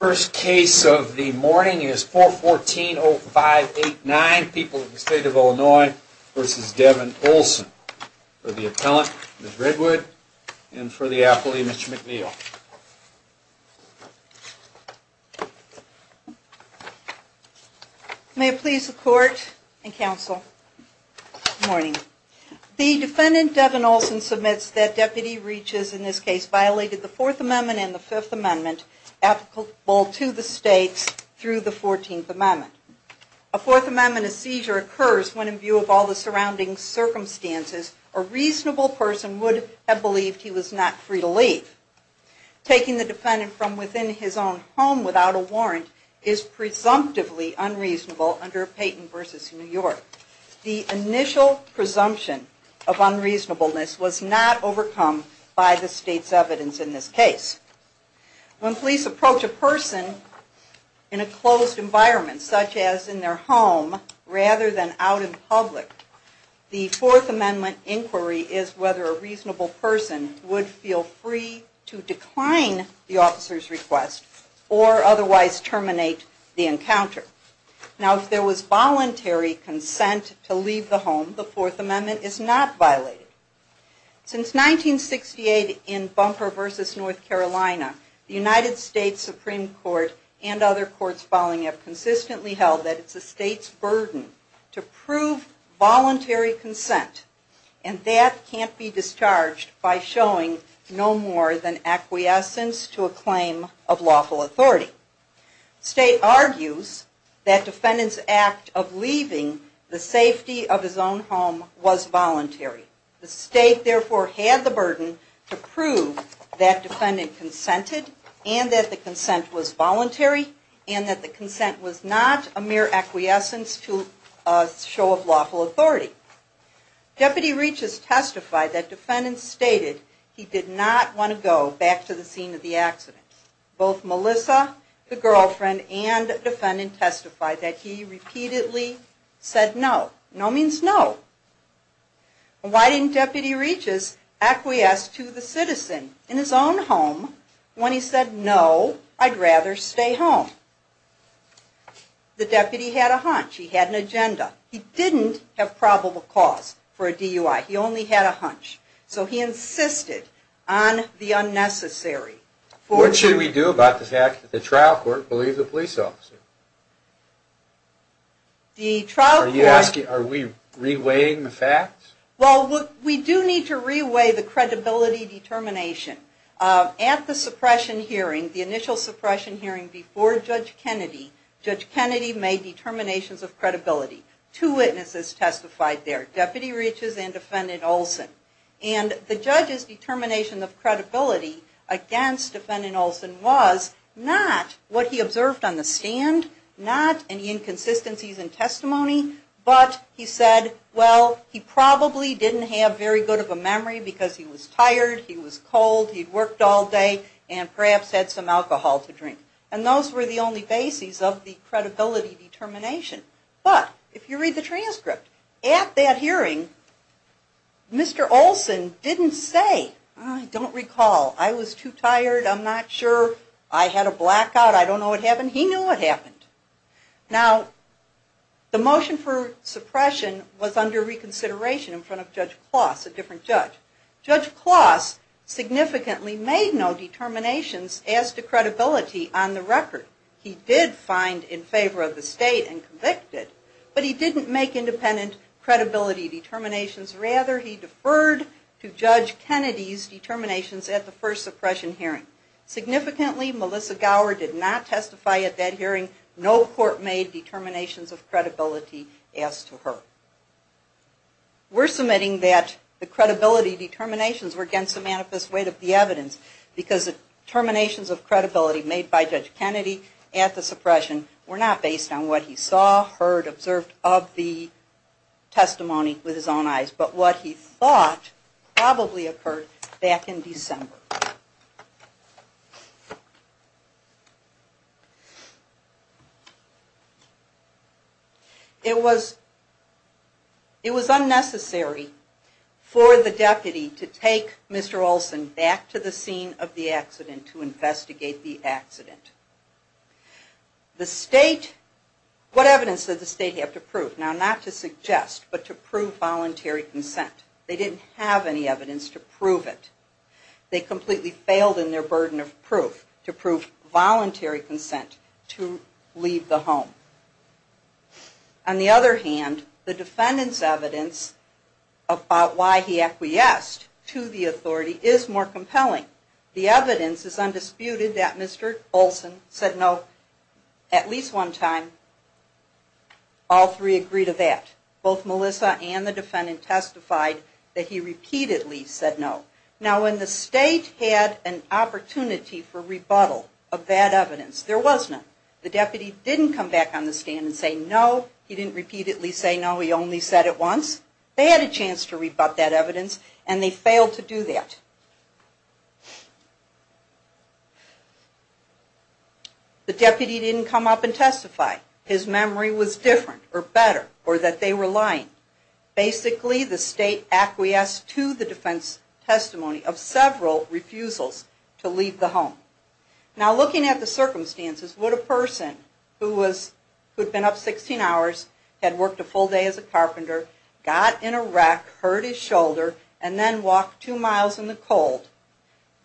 First case of the morning is 414-0589, People of the State of Illinois v. Devon Ohlsson. For the appellant, Ms. Redwood, and for the appellee, Mr. McNeil. May it please the Court and Counsel, good morning. The defendant, Devon Ohlsson, submits that Deputy Reaches, in this case, violated the Fourth Amendment and the Fifth Amendment applicable to the states through the Fourteenth Amendment. A Fourth Amendment seizure occurs when, in view of all the surrounding circumstances, a reasonable person would have believed he was not free to leave. Taking the defendant from within his own home without a warrant is presumptively unreasonable under Payton v. New York. The initial presumption of unreasonableness was not overcome by the state's evidence in this case. When police approach a person in a closed environment, such as in their home, rather than out in public, the Fourth Amendment inquiry is whether a reasonable person would feel free to decline the officer's request or otherwise terminate the encounter. Now, if there was voluntary consent to leave the home, the Fourth Amendment is not violated. Since 1968, in Bumper v. North Carolina, the United States Supreme Court and other courts following it have consistently held that it's the state's burden to prove voluntary consent. And that can't be discharged by showing no more than acquiescence to a claim of lawful authority. State argues that defendant's act of leaving the safety of his own home was voluntary. The state, therefore, had the burden to prove that defendant consented and that the consent was voluntary and that the consent was not a mere acquiescence to a show of lawful authority. Deputy Reaches testified that defendant stated he did not want to go back to the scene of the accident. Both Melissa, the girlfriend, and defendant testified that he repeatedly said no. No means no. Why didn't Deputy Reaches acquiesce to the citizen in his own home when he said, no, I'd rather stay home? The deputy had a hunch. He had an agenda. He didn't have probable cause for a DUI. He only had a hunch. So he insisted on the unnecessary. What should we do about the fact that the trial court believed the police officer? The trial court... Are we re-weighing the facts? Well, we do need to re-weigh the credibility determination. At the suppression hearing, the initial suppression hearing before Judge Kennedy, Judge Kennedy made determinations of credibility. Two witnesses testified there, Deputy Reaches and Defendant Olson. And the judge's determination of credibility against Defendant Olson was not what he observed on the stand, not any inconsistencies in testimony. But he said, well, he probably didn't have very good of a memory because he was tired, he was cold, he'd worked all day, and perhaps had some alcohol to drink. And those were the only bases of the credibility determination. But, if you read the transcript, at that hearing, Mr. Olson didn't say, I don't recall. I was too tired. I'm not sure. I had a blackout. I don't know what happened. He knew what happened. Now, the motion for suppression was under reconsideration in front of Judge Closs, a different judge. Judge Closs significantly made no determinations as to credibility on the record. He did find in favor of the state and convicted, but he didn't make independent credibility determinations. Rather, he deferred to Judge Kennedy's determinations at the first suppression hearing. Significantly, Melissa Gower did not testify at that hearing. No court made determinations of credibility as to her. We're submitting that the credibility determinations were against the manifest weight of the evidence because the determinations of credibility made by Judge Kennedy at the suppression were not based on what he saw, heard, observed of the testimony with his own eyes, but what he thought probably occurred back in December. It was unnecessary for the deputy to take Mr. Olson back to the scene of the accident to investigate the accident. The state, what evidence did the state have to prove? Now, not to suggest, but to prove voluntary consent. They didn't have any evidence to prove it. They completely failed in their burden of proof to prove voluntary consent to leave the home. On the other hand, the defendant's evidence about why he acquiesced to the authority is more compelling. The evidence is undisputed that Mr. Olson said no at least one time. All three agree to that. Both Melissa and the defendant testified that he repeatedly said no. Now, when the state had an opportunity for rebuttal of that evidence, there was none. The deputy didn't come back on the stand and say no. He didn't repeatedly say no. He only said it once. They had a chance to rebut that evidence and they failed to do that. The deputy didn't come up and testify. His memory was different or better or that they were lying. Basically, the state acquiesced to the defense testimony of several refusals to leave the home. Now, looking at the circumstances, would a person who had been up 16 hours, had worked a full day as a carpenter, got in a wreck, hurt his shoulder, and then walked two miles in the cold,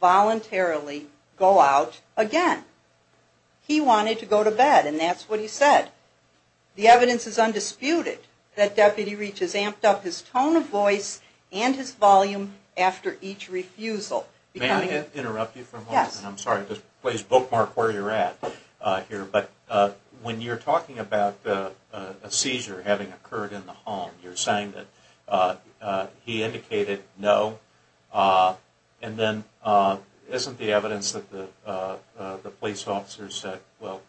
voluntarily go out again? He wanted to go to bed and that's what he said. The evidence is undisputed that Deputy Reach has amped up his tone of voice and his volume after each refusal. May I interrupt you for a moment? Yes. I'm sorry, just bookmark where you're at here. But when you're talking about a seizure having occurred in the home, you're saying that he indicated no. And then isn't the evidence that the police officer said, well,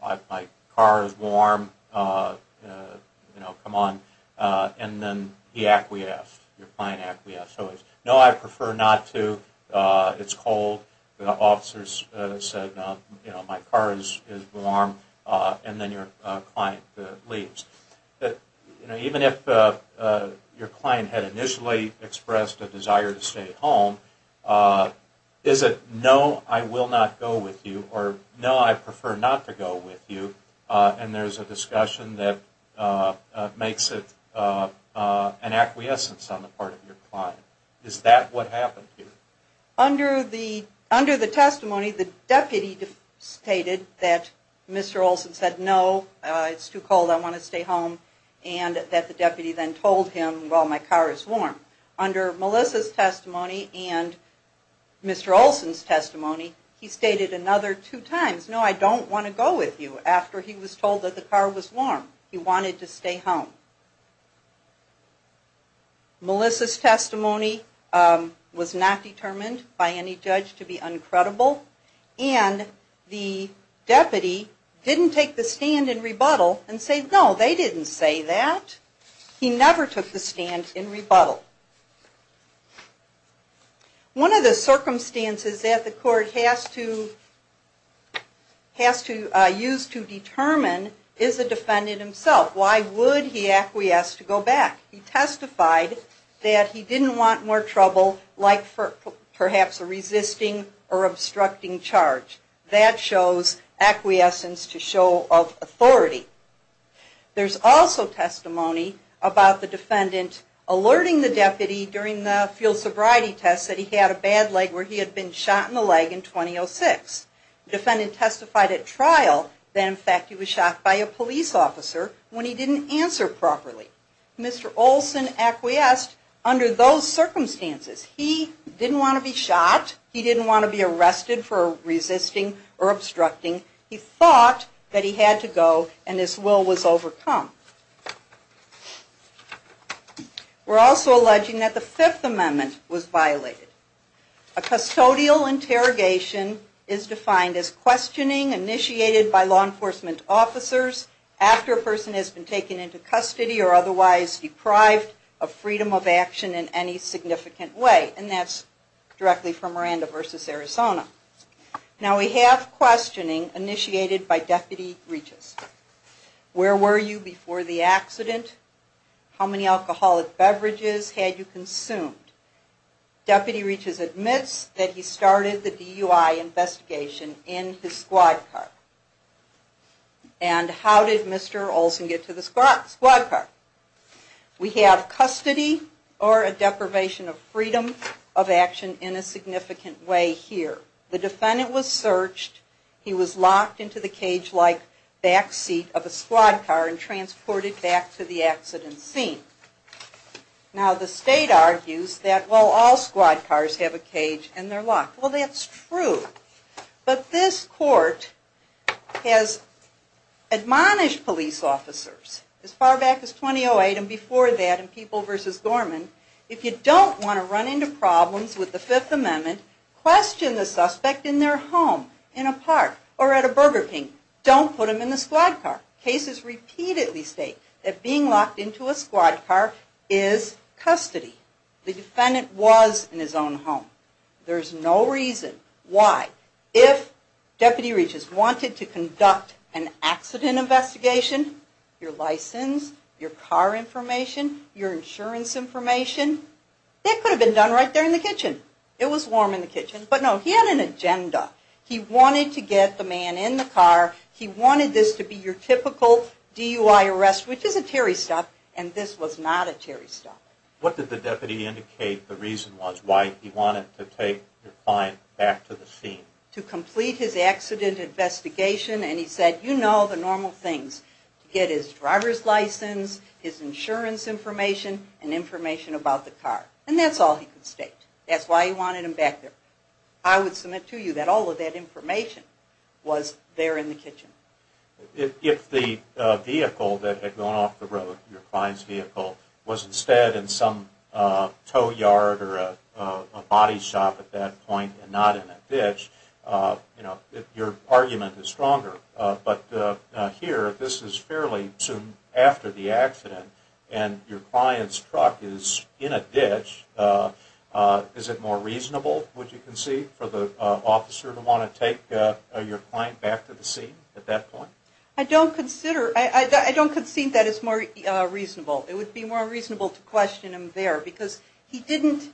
my car is warm, you know, come on. And then he acquiesced, your client acquiesced. So it's, no, I prefer not to, it's cold. The officers said, you know, my car is warm. And then your client leaves. I'm just curious, you know, even if your client had initially expressed a desire to stay home, is it, no, I will not go with you, or no, I prefer not to go with you, and there's a discussion that makes it an acquiescence on the part of your client. Is that what happened here? Under the testimony, the deputy stated that Mr. Olson said, no, it's too cold, I want to stay home. And that the deputy then told him, well, my car is warm. Under Melissa's testimony and Mr. Olson's testimony, he stated another two times, no, I don't want to go with you, after he was told that the car was warm. He wanted to stay home. Melissa's testimony was not determined by any judge to be uncredible. And the deputy didn't take the stand in rebuttal and say, no, they didn't say that. He never took the stand in rebuttal. One of the circumstances that the court has to, has to use to determine is the defendant himself. Why would he acquiesce to go back? He testified that he didn't want more trouble, like perhaps a resisting or obstructing charge. That shows acquiescence to show of authority. There's also testimony about the defendant alerting the deputy during the field sobriety test that he had a bad leg, where he had been shot in the leg in 2006. Defendant testified at trial that in fact he was shot by a police officer when he didn't answer properly. Mr. Olson acquiesced under those circumstances. He didn't want to be shot. He didn't want to be arrested for resisting or obstructing. He thought that he had to go and his will was overcome. We're also alleging that the Fifth Amendment was violated. A custodial interrogation is defined as questioning initiated by law enforcement officers after a person has been taken into custody or otherwise deprived of freedom of action in any significant way. And that's directly from Miranda v. Arizona. Now we have questioning initiated by Deputy Regis. Where were you before the accident? How many alcoholic beverages had you consumed? Deputy Regis admits that he started the DUI investigation in his squad car. And how did Mr. Olson get to the squad car? We have custody or a deprivation of freedom of action in a significant way here. The defendant was searched. He was locked into the cage-like backseat of a squad car and transported back to the accident scene. Now the state argues that, well, all squad cars have a cage and they're locked. Well, that's true. But this court has admonished police officers as far back as 2008 and before that in People v. Gorman, if you don't want to run into problems with the Fifth Amendment, question the suspect in their home, in a park, or at a Burger King. Don't put them in the squad car. Cases repeatedly state that being locked into a squad car is custody. The defendant was in his own home. There's no reason why. If Deputy Regis wanted to conduct an accident investigation, your license, your car information, your insurance information, that could have been done right there in the kitchen. It was warm in the kitchen. But no, he had an agenda. He wanted to get the man in the car. He wanted this to be your typical DUI arrest, which is a Terry stop, and this was not a Terry stop. What did the deputy indicate the reason was, why he wanted to take the client back to the scene? To complete his accident investigation. And he said, you know the normal things. Get his driver's license, his insurance information, and information about the car. And that's all he could state. That's why he wanted him back there. I would submit to you that all of that information was there in the kitchen. If the vehicle that had gone off the road, your client's vehicle, was instead in some tow yard or a body shop at that point, and not in a ditch, you know, your argument is stronger. But here, this is fairly soon after the accident, and your client's truck is in a ditch. Is it more reasonable, would you concede, for the officer to want to take your client back to the scene at that point? I don't consider, I don't concede that it's more reasonable. It would be more reasonable to question him there. Because he didn't,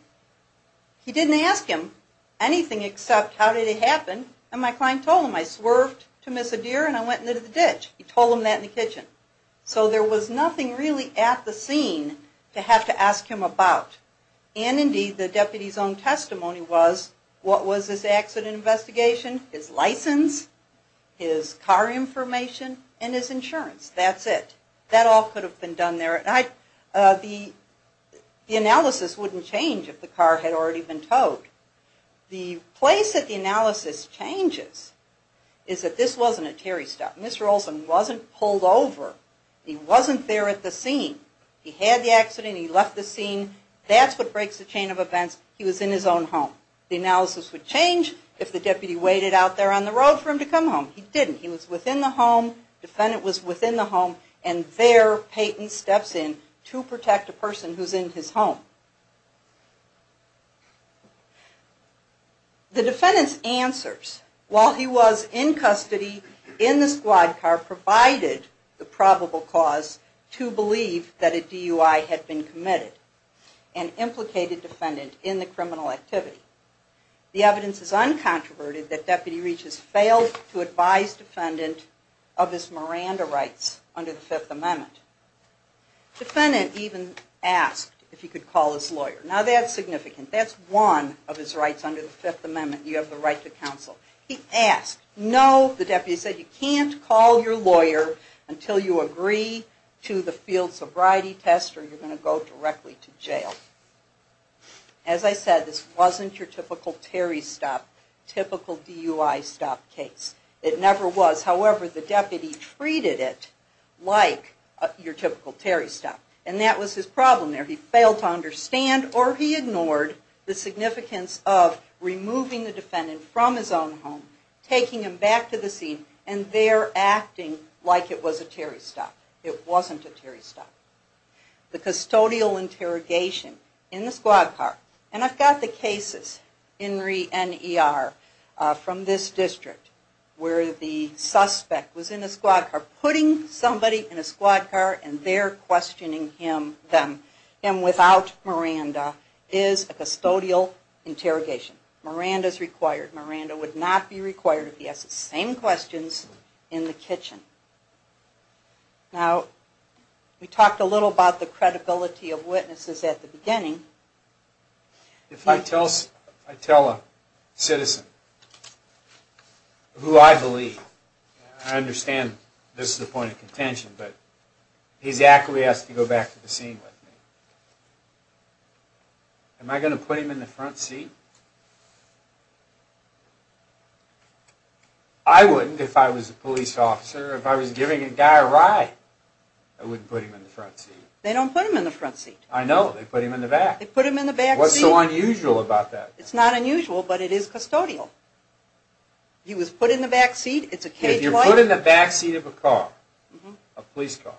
he didn't ask him anything except, how did it happen? And my client told him, I swerved to miss a deer and I went into the ditch. He told him that in the kitchen. So there was nothing really at the scene to have to ask him about. And indeed, the deputy's own testimony was, what was his accident investigation, his license, his car information, and his insurance. That's it. That all could have been done there. The analysis wouldn't change if the car had already been towed. The place that the analysis changes is that this wasn't a Terry stop. Mr. Olson wasn't pulled over. He wasn't there at the scene. He had the accident. He left the scene. That's what breaks the chain of events. He was in his own home. The analysis would change if the deputy waited out there on the road for him to come home. He didn't. He was within the home. Defendant was within the home. And there, Peyton steps in to protect a person who's in his home. The defendant's answers, while he was in custody in the squad car, provided the probable cause to believe that a DUI had been committed and implicated defendant in the criminal activity. The evidence is uncontroverted that Deputy Reach has failed to advise defendant of his Miranda rights under the Fifth Amendment. Defendant even asked if he could call his lawyer. Now, that's significant. That's one of his rights under the Fifth Amendment. You have the right to counsel. He asked. No, the deputy said, you can't call your lawyer until you agree to the field sobriety test or you're going to go directly to jail. As I said, this wasn't your typical Terry stop, typical DUI stop case. It never was. However, the deputy treated it like your typical Terry stop. And that was his problem there. He failed to understand or he ignored the significance of removing the defendant from his own home, taking him back to the scene, and there acting like it was a Terry stop. It wasn't a Terry stop. The custodial interrogation in the squad car. And I've got the cases, Henry and E.R., from this district where the suspect was in a squad car putting somebody in a squad car and they're questioning him, them. Him without Miranda is a custodial interrogation. Miranda's required. Miranda would not be required if he asked the same questions in the kitchen. Now, we talked a little about the credibility of witnesses at the beginning. If I tell a citizen who I believe, I understand this is a point of contention, but he's actually asked to go back to the scene with me. Am I going to put him in the front seat? I wouldn't if I was a police officer. If I was giving a guy a ride, I wouldn't put him in the front seat. They don't put him in the front seat. I know. They put him in the back. They put him in the back seat. What's so unusual about that? It's not unusual, but it is custodial. He was put in the back seat. It's a K-20. If you're put in the back seat of a car, a police car,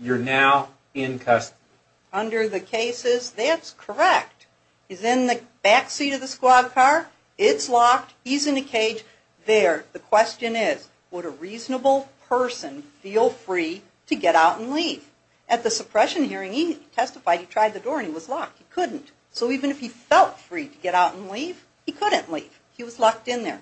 you're now in custody. Under the cases, that's correct. He's in the back seat of the squad car. It's locked. He's in a cage there. The question is, would a reasonable person feel free to get out and leave? At the suppression hearing, he testified he tried the door and he was locked. He couldn't. So even if he felt free to get out and leave, he couldn't leave. He was locked in there.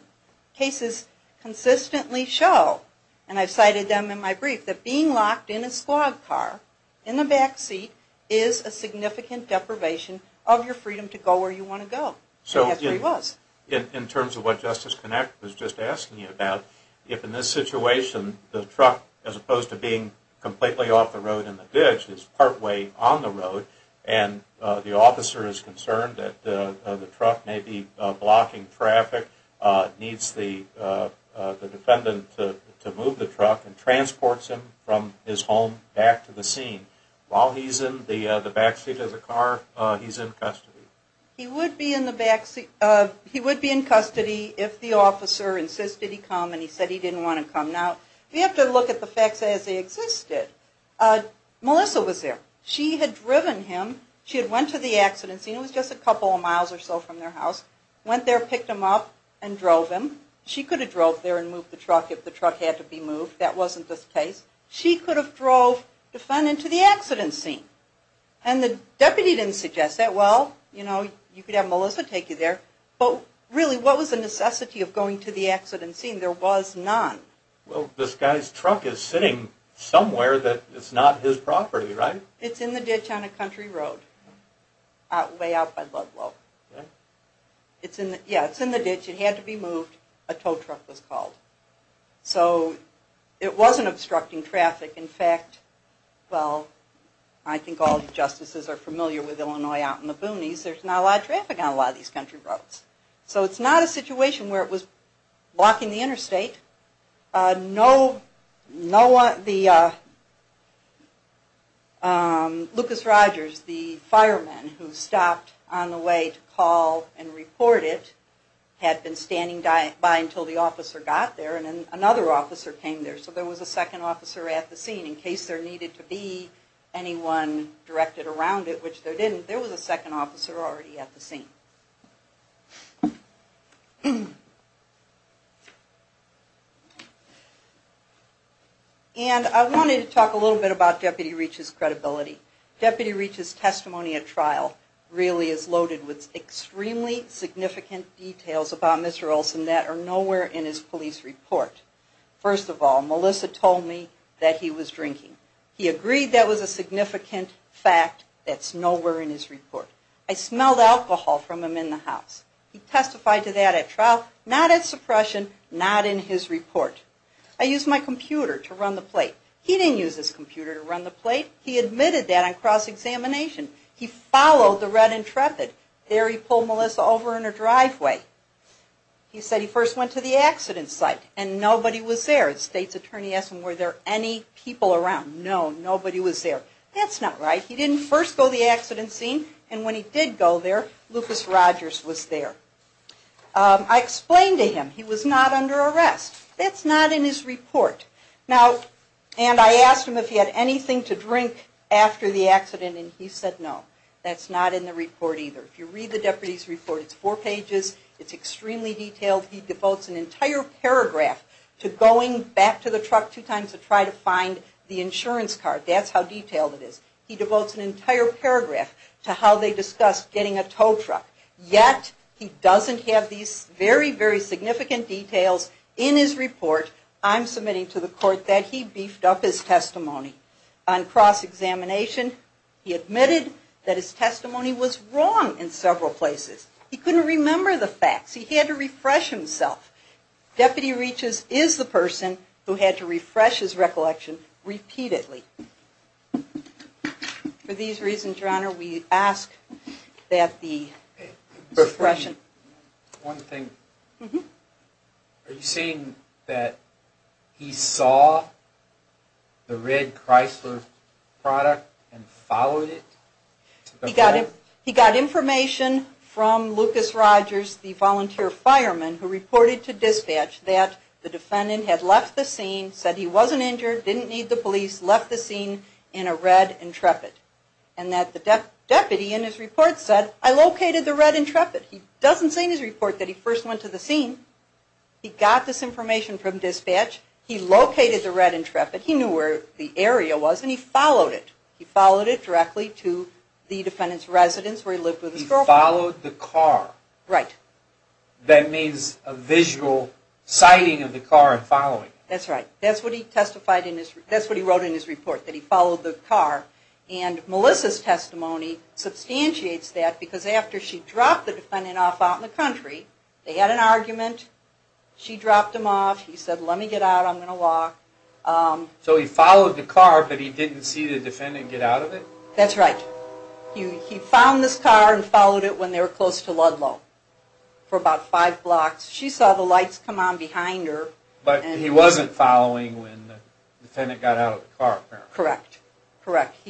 Cases consistently show, and I've cited them in my brief, that being locked in a squad car in the back seat is a significant deprivation of your freedom to go where you want to go. So yes, there he was. In terms of what Justice Connacht was just asking you about, if in this situation, the truck, as opposed to being completely off the road in the ditch, is partway on the road, and the officer is concerned that the truck may be blocking traffic, needs the defendant to move the truck, and transports him from his home back to the scene. While he's in the back seat of the car, he's in custody. He would be in custody if the officer insisted he come and he said he didn't want to come. Now, we have to look at the facts as they existed. Melissa was there. She had driven him. She had went to the accident scene. It was just a couple of miles or so from their house. Went there, picked him up, and drove him. She could have drove there and moved the truck if the truck had to be moved. That wasn't the case. She could have drove the defendant to the accident scene. And the deputy didn't suggest that. Well, you know, you could have Melissa take you there. But really, what was the necessity of going to the accident scene? There was none. Well, this guy's truck is sitting somewhere that it's not his property, right? It's in the ditch on a country road, way out by Ludlow. Yeah, it's in the ditch. It had to be moved. A tow truck was called. So it wasn't obstructing traffic. In fact, well, I think all the justices are familiar with Illinois out in the boonies. There's not a lot of traffic on a lot of these country roads. So it's not a situation where it was blocking the interstate. No one, the, Lucas Rogers, the fireman who stopped on the way to call and report it, had been standing by until the officer got there. And then another officer came there. So there was a second officer at the scene. In case there needed to be anyone directed around it, which there didn't, there was a second officer already at the scene. And I wanted to talk a little bit about Deputy Reach's credibility. Deputy Reach's testimony at trial really is loaded with extremely significant details about Mr. Olson that are nowhere in his police report. First of all, Melissa told me that he was drinking. He agreed that was a significant fact that's nowhere in his report. I smelled alcohol from him in the house. He testified to that at trial, not at suppression, not in his report. I used my computer to run the plate. He didn't use his computer to run the plate. He admitted that on cross-examination. He followed the red Intrepid. There he pulled Melissa over in a driveway. He said he first went to the accident site, and nobody was there. The state's attorney asked him, were there any people around? No, nobody was there. That's not right. He didn't first go to the accident scene, and when he did go there, Lucas Rogers was there. I explained to him he was not under arrest. That's not in his report. Now, and I asked him if he had anything to drink after the accident, and he said no. That's not in the report either. If you read the deputy's report, it's four pages. It's extremely detailed. He devotes an entire paragraph to going back to the truck two times to try to find the insurance card. That's how detailed it is. He devotes an entire paragraph to how they discussed getting a tow truck. Yet, he doesn't have these very, very significant details in his report. I'm submitting to the court that he beefed up his testimony. On cross-examination, he admitted that his testimony was wrong in several places. He couldn't remember the facts. He had to refresh himself. Deputy Reaches is the person who had to refresh his recollection repeatedly. For these reasons, Your Honor, we ask that the suppression... One thing. Are you saying that he saw the red Chrysler product and followed it? He got information from Lucas Rogers, the volunteer fireman who reported to dispatch that the defendant had left the scene, said he wasn't injured, didn't need the police, left the scene in a red Intrepid. And that the deputy in his report said, I located the red Intrepid. He doesn't say in his report that he first went to the scene. He got this information from dispatch. He located the red Intrepid. He knew where the area was, and he followed it. He followed it directly to the defendant's residence where he lived with his girlfriend. He followed the car. Right. That means a visual sighting of the car and following it. That's right. That's what he testified in his... That's what he wrote in his report, that he followed the car. And Melissa's testimony substantiates that because after she dropped the defendant off out in the country, they had an argument. She dropped him off. He said, let me get out. I'm going to walk. So he followed the car, but he didn't see the defendant get out of it? That's right. He found this car and followed it when they were close to Ludlow for about five blocks. She saw the lights come on behind her. But he wasn't following when the defendant got out of the car, apparently. Correct. Correct.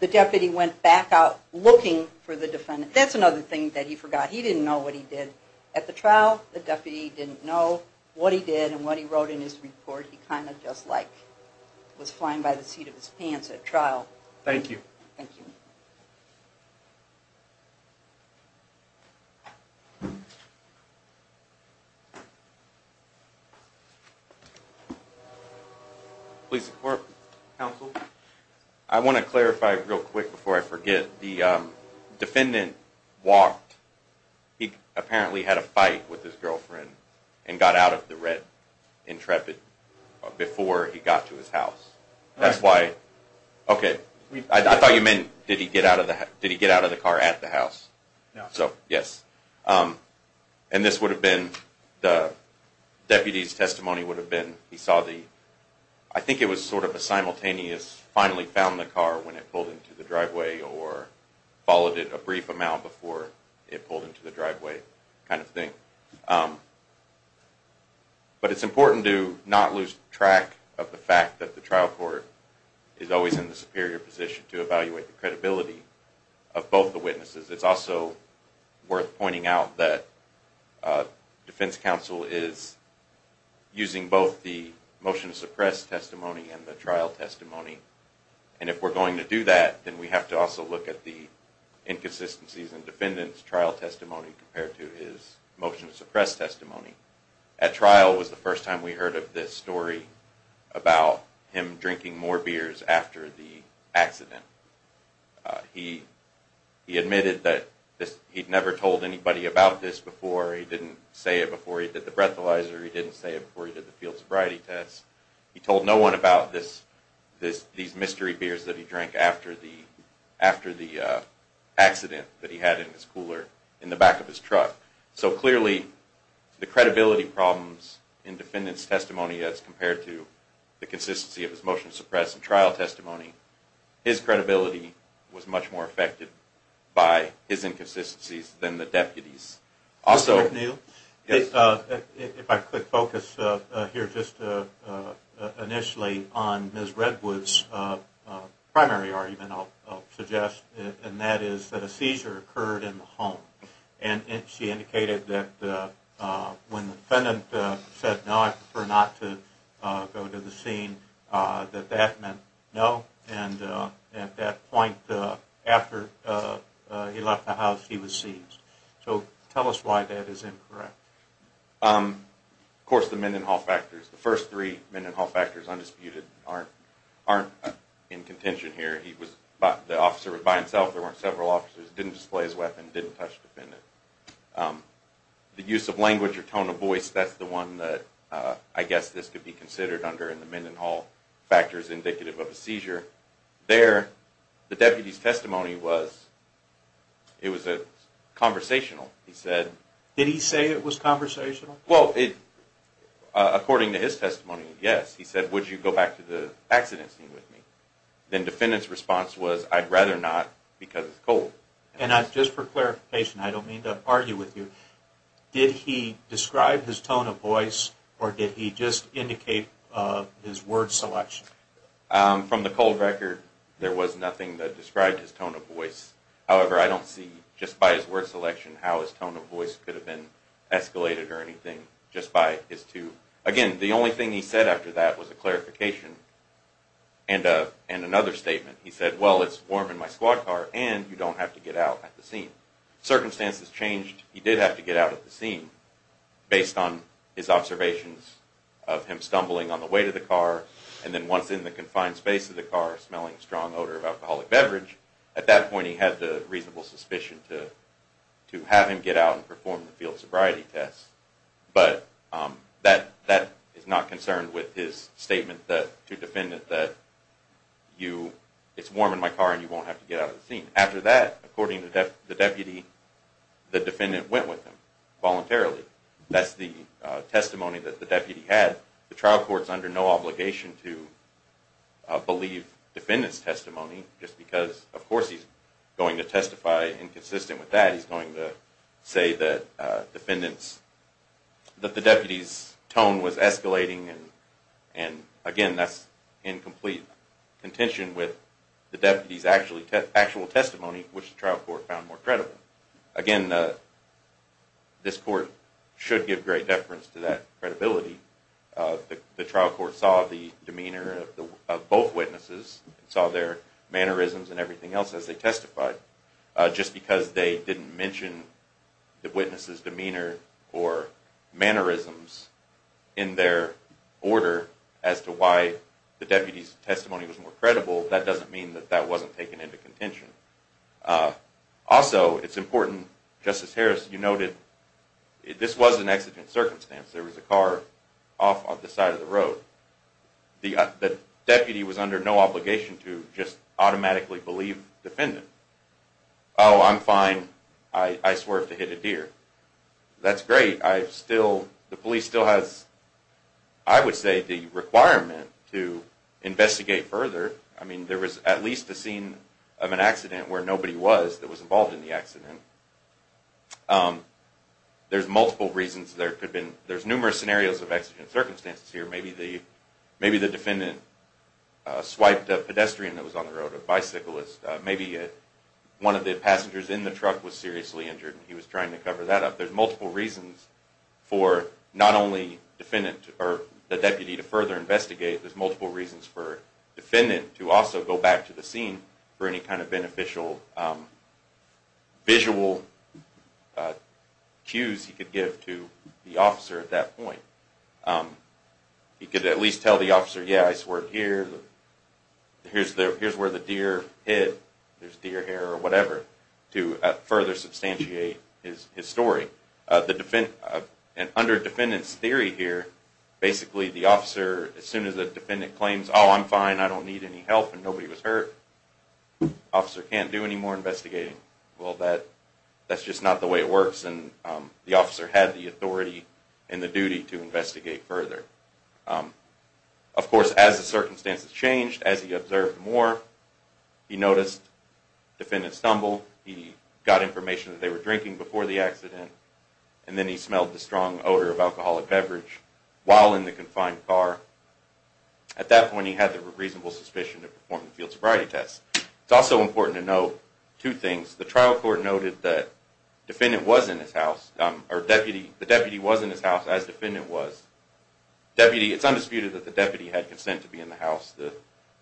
The deputy went back out looking for the defendant. That's another thing that he forgot. He didn't know what he did at the trial. The deputy didn't know what he did and what he wrote in his report. He kind of just like was flying by the seat of his pants at trial. Thank you. Thank you. Please support counsel. I want to clarify real quick before I forget. The defendant walked. He apparently had a fight with his girlfriend and got out of the red Intrepid before he got to his house. That's why. Okay. I thought you meant did he get out of the car at the house? No. Yes. And this would have been the deputy's testimony would have been he saw the I think it was sort of a simultaneous finally found the car when it pulled into the driveway or followed it a brief amount before it pulled into the driveway kind of thing. But it's important to not lose track of the fact that the trial court is always in the superior position to evaluate the credibility of both the witnesses. It's also worth pointing out that defense counsel is using both the motion to suppress testimony and the trial testimony. And if we're going to do that, then we have to also look at the inconsistencies and defendants trial testimony compared to his motion to suppress testimony at trial was the first time we heard of this story about him drinking more beers after the accident. He he admitted that this he'd never told anybody about this before. He didn't say it before he did the breathalyzer. He didn't say it before he did the field sobriety test. He told no one about this this these mystery beers that he drank after the after the accident that he had in his cooler in the back of his truck. So clearly the credibility problems in defendants testimony as compared to the consistency of his motion to suppress and trial testimony, his credibility was much more affected by his inconsistencies than the deputies. Also if I could focus here just initially on Ms. Redwood's primary argument I'll suggest and that is that a seizure occurred in the home. And she indicated that when the defendant said no I prefer not to go to the scene that that meant no and at that point after he left the house he was seized. So tell us why that is incorrect. Of course the Mendenhall factors. The first three Mendenhall factors undisputed aren't in contention here. The officer was by himself. There weren't several officers. Didn't display his weapon. Didn't touch the defendant. The use of language or tone of voice that's the one that I guess this could be considered under in the Mendenhall factors indicative of a seizure. There the deputies testimony was it was conversational. Did he say it was conversational? Well according to his testimony yes. He said would you go back to the accident scene with me. Then defendant's response was I'd rather not because it's cold. And just for clarification I don't mean to argue with you. Did he describe his tone of voice or did he just indicate his word selection? From the cold record there was nothing that described his tone of voice. However I don't see just by his word selection how his tone of voice could have been escalated or anything just by his two. Again the only thing he said after that was a clarification. And another statement. He said well it's warm in my squad car and you don't have to get out at the scene. Circumstances changed. He did have to get out at the scene based on his observations of him stumbling on the way to the car and then once in the confined space of the car smelling a strong odor of alcoholic beverage. At that point he had the reasonable suspicion to have him get out and perform the field sobriety test. But that is not concerned with his statement to defendant that it's warm in my car and you won't have to get out at the scene. After that according to the deputy the defendant went with him voluntarily. That's the testimony that the deputy had. The trial court is under no obligation to believe defendant's testimony just because of course he's going to testify inconsistent with that. He's going to say that defendant's, that the deputy's tone was escalating and again that's incomplete contention with the deputy's actual testimony which the trial court found more credible. Again this court should give great deference to that credibility. The trial court saw the demeanor of both witnesses and saw their mannerisms and everything else as they testified. Just because they didn't mention the witness's demeanor or mannerisms in their order as to why the deputy's testimony was more credible that doesn't mean that that wasn't taken into contention. Also it's important Justice Harris you noted this was an accident circumstance. The deputy was under no obligation to just automatically believe defendant. Oh I'm fine I swerved to hit a deer. That's great. I still, the police still has I would say the requirement to investigate further. I mean there was at least a scene of an accident where nobody was that was involved in the accident. There's multiple reasons there could have been, there's numerous scenarios of accident circumstances here. Maybe the defendant swiped a pedestrian that was on the road, a bicyclist, maybe one of the passengers in the truck was seriously injured and he was trying to cover that up. There's multiple reasons for not only defendant or the deputy to further investigate, there's multiple reasons for defendant to also go back to the scene for any kind of beneficial visual cues he could give to the officer at that point. He could at least tell the officer yeah I swerved here, here's where the deer hid, there's deer hair or whatever to further substantiate his story. Under defendant's theory here basically the officer as soon as the defendant claims oh I'm fine, I don't need any help and nobody was hurt, the officer can't do any more investigating. Well that's just not the way it works and the officer had the authority and the duty to investigate further. Of course as the circumstances changed, as he observed more, he noticed the defendant stumble, he got information that they were drinking before the accident and then he smelled the strong odor of alcoholic beverage while in the confined car. At that point he had the reasonable suspicion to perform the field sobriety test. It's also important to note two things. The trial court noted that the deputy was in his house as the defendant was. It's undisputed that the deputy had consent to be in the house.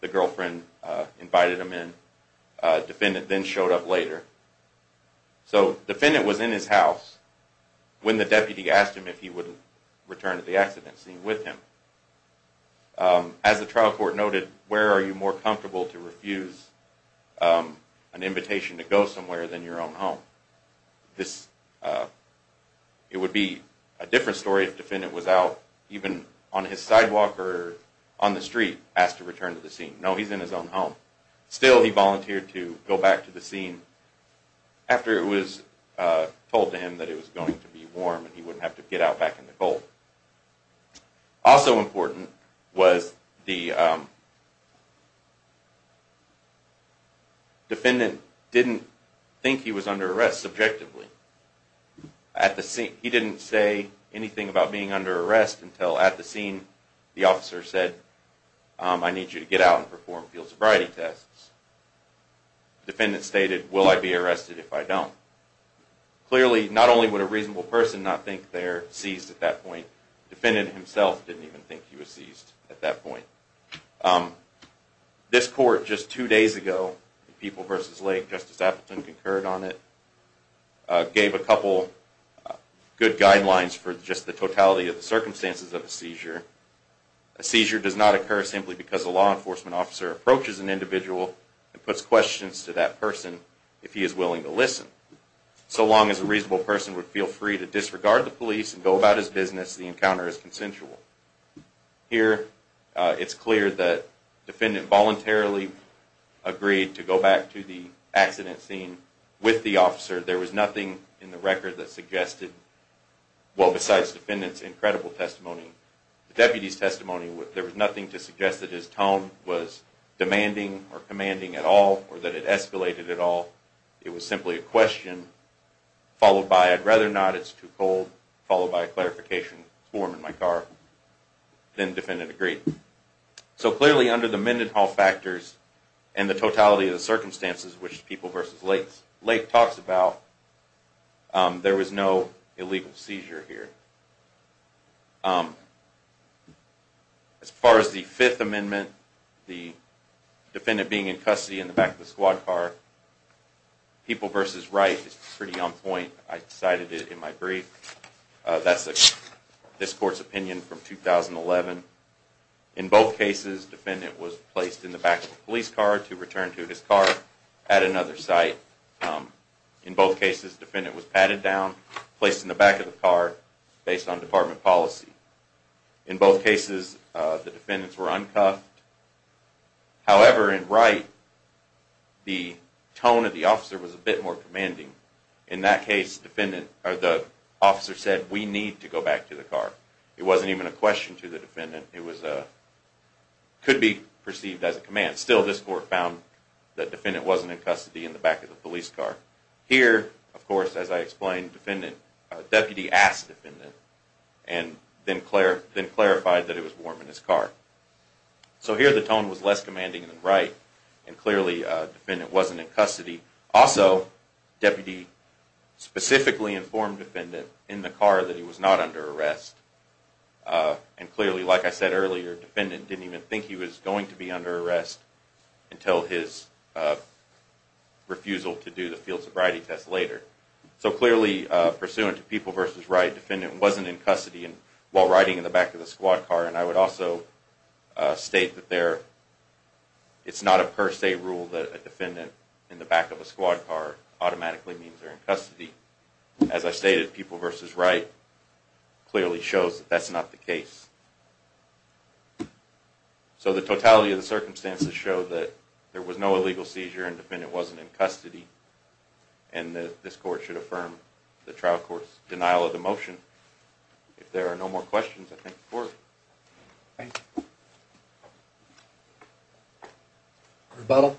The girlfriend invited him in. The defendant then showed up later. So the defendant was in his house when the deputy asked him if he would return to the scene. As the trial court noted, where are you more comfortable to refuse an invitation to go somewhere than your own home? It would be a different story if the defendant was out even on his sidewalk or on the street asked to return to the scene. No, he's in his own home. Still he volunteered to go back to the scene after it was told to him that it was going to be warm and he wouldn't have to get out back in the cold. Also important was the defendant didn't think he was under arrest subjectively. He didn't say anything about being under arrest until at the scene the officer said, I need you to get out and perform field sobriety tests. The defendant stated, will I be arrested if I don't? Clearly not only would a reasonable person not think they're seized at that point, the defendant himself didn't even think he was seized at that point. This court just two days ago, People v. Lake, Justice Appleton concurred on it, gave a couple good guidelines for just the totality of the circumstances of a seizure. A seizure does not occur simply because a law enforcement officer approaches an individual and puts questions to that person if he is willing to listen. So long as a reasonable person would feel free to disregard the police and go about his business, the encounter is consensual. Here it's clear that the defendant voluntarily agreed to go back to the accident scene with the officer. There was nothing in the record that suggested, well besides the defendant's incredible testimony, the deputy's testimony, there was nothing to suggest that his tone was demanding or commanding at all or that it escalated at all. It was simply a question followed by, I'd rather not, it's too cold, followed by a clarification form in my car. Then the defendant agreed. So clearly under the Mendenhall factors and the totality of the circumstances which People v. Lake talks about, there was no illegal seizure here. As far as the Fifth Amendment, the defendant being in custody in the back of the squad car, People v. Wright is pretty on point. I cited it in my brief. That's this court's opinion from 2011. In both cases, the defendant was placed in the back of the police car to return to his car at another site. In both cases, the defendant was patted down, placed in the back of the car, based on department policy. In both cases, the defendants were uncuffed. However, in Wright, the tone of the officer was a bit more commanding. In that case, the officer said, we need to go back to the car. It wasn't even a question to the defendant. It could be perceived as a command. Still, this court found the defendant wasn't in custody in the back of the police car. Here, of course, as I explained, the deputy asked the defendant and then clarified that it was warm in his car. So here, the tone was less commanding than Wright. Clearly, the defendant wasn't in custody. Also, the deputy specifically informed the defendant in the car that he was not under arrest. Clearly, like I said earlier, the defendant didn't even think he was going to be under arrest until his refusal to do the field sobriety test later. So clearly, pursuant to People v. Wright, the defendant wasn't in custody while riding in the back of the squad car. I would also state that it's not a per se rule that a defendant in the back of a squad car automatically means they're in custody. As I stated, People v. Wright clearly shows that that's not the case. So the totality of the circumstances show that there was no illegal seizure and the defendant wasn't in custody. And this court should affirm the trial court's denial of the motion. If there are no more questions, I thank the court. Thank you. Rebuttal?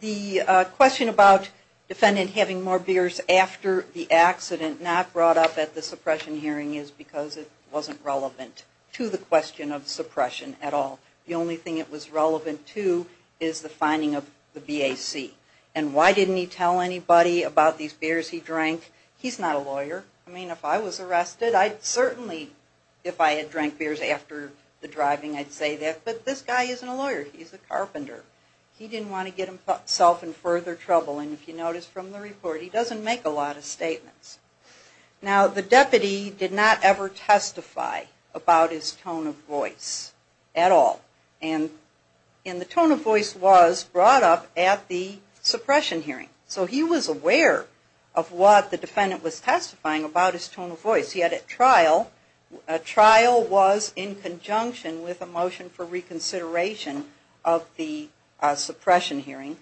The question about the defendant having more beers after the accident not brought up at the suppression hearing is because it wasn't relevant to the question of suppression at all. The only thing it was relevant to is the finding of the BAC. And why didn't he tell anybody about these beers he drank? He's not a lawyer. I mean, if I was arrested, I'd certainly, if I had drank beers after the driving, I'd say that. But this guy isn't a lawyer. He's a carpenter. He didn't want to get himself in further trouble. And if you notice from the report, he doesn't make a lot of statements. Now, the deputy did not ever testify about his tone of voice at all. And the tone of voice was brought up at the suppression hearing. So he was aware of what the defendant was testifying about his tone of voice. Yet at trial, a trial was in conjunction with a motion for reconsideration of the suppression hearing.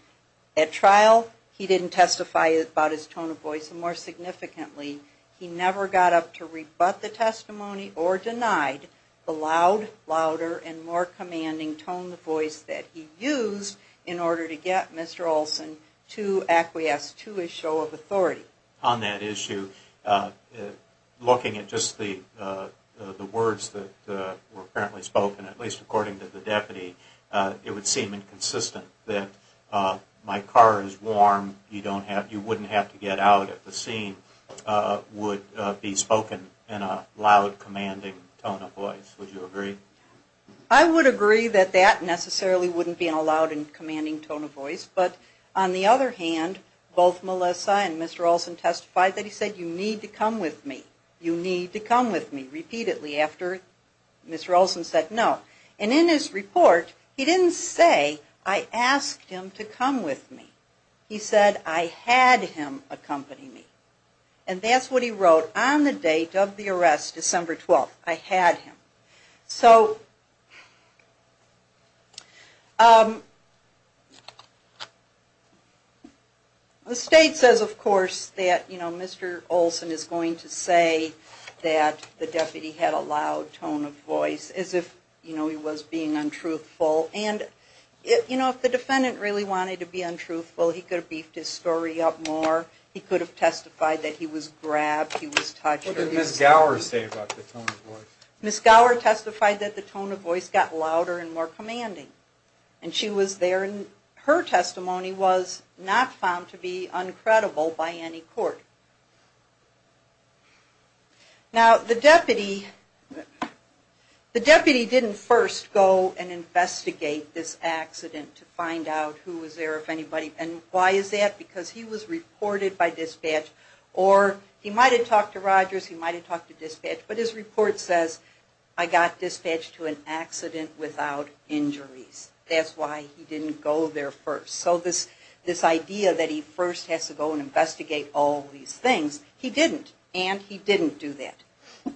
At trial, he didn't testify about his tone of voice. And more significantly, he never got up to rebut the testimony or denied the loud, louder, and more commanding tone of voice that he used in order to get Mr. Olson to acquiesce to his show of authority. On that issue, looking at just the words that were apparently spoken, at least according to the deputy, it would seem inconsistent that my car is warm, you wouldn't have to get out at the scene would be spoken in a loud, commanding tone of voice. Would you agree? I would agree that that necessarily wouldn't be a loud and commanding tone of voice. But on the other hand, both Melissa and Mr. Olson testified that he said, you need to come with me. You need to come with me. Repeatedly after Mr. Olson said no. And in his report, he didn't say, I asked him to come with me. He said, I had him accompany me. And that's what he wrote on the date of the arrest, December 12th. I had him. The state says, of course, that Mr. Olson is going to say that the deputy had a loud tone of voice as if he was being untruthful. And, you know, if the defendant really wanted to be untruthful, he could have beefed his story up more. He could have testified that he was grabbed, he was touched. What did Ms. Gower say about the tone of voice? Ms. Gower testified that the tone of voice got louder and more commanding. And she was there, and her testimony was not found to be uncredible by any court. Now, the deputy, the deputy didn't first go and investigate this accident to find out who was there, if anybody. And why is that? Because he was reported by dispatch, or he might have talked to Rogers, he might have talked to dispatch, but his report says, I got dispatched to an accident without injuries. That's why he didn't go there first. So this idea that he first has to go and investigate all these things, he didn't, and he didn't do that.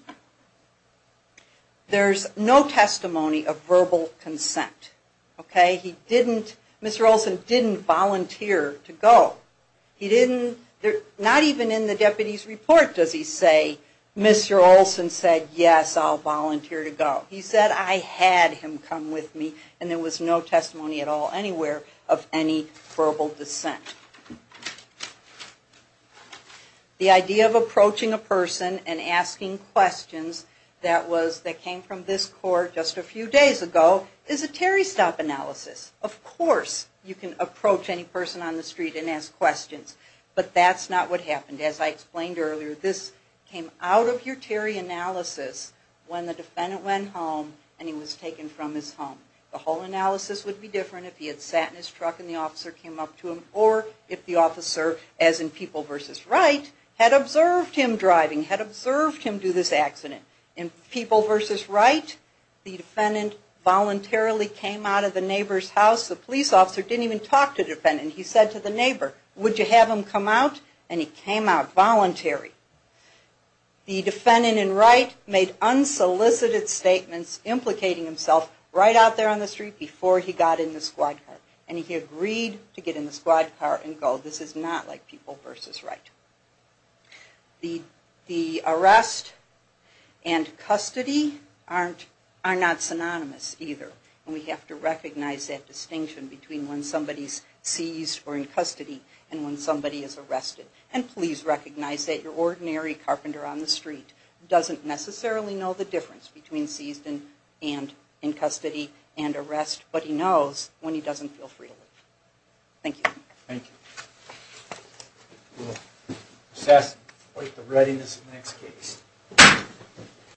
There's no testimony of verbal consent. Okay? He didn't, Mr. Olson didn't volunteer to go. He didn't, not even in the deputy's report does he say, Mr. Olson said, yes, I'll volunteer to go. He said, I had him come with me, and there was no testimony at all anywhere of any verbal dissent. The idea of approaching a person and asking questions that was, that came from this court just a few days ago, is a Terry stop analysis. Of course you can approach any person on the street and ask questions. But that's not what happened. As I explained earlier, this came out of your Terry analysis when the defendant went home and he was taken from his home. The whole analysis would be different if he had sat in his truck and the officer came up to him, or if the officer, as in People v. Wright, had observed him driving, had observed him do this accident. In People v. Wright, the defendant voluntarily came out of the neighbor's house. The police officer didn't even talk to the defendant. He said to the neighbor, would you have him come out? And he came out voluntary. The defendant in Wright made unsolicited statements implicating himself right out there on the street before he got in the squad car. And he agreed to get in the squad car and go. This is not like People v. Wright. The arrest and custody are not synonymous either. And we have to recognize that distinction between when somebody is seized or in custody and when somebody is arrested. And please recognize that your ordinary carpenter on the street doesn't necessarily know the difference between seized and in custody and arrest, but he knows when he doesn't feel free to leave. Thank you. Thank you. We'll assess the readiness of the next case.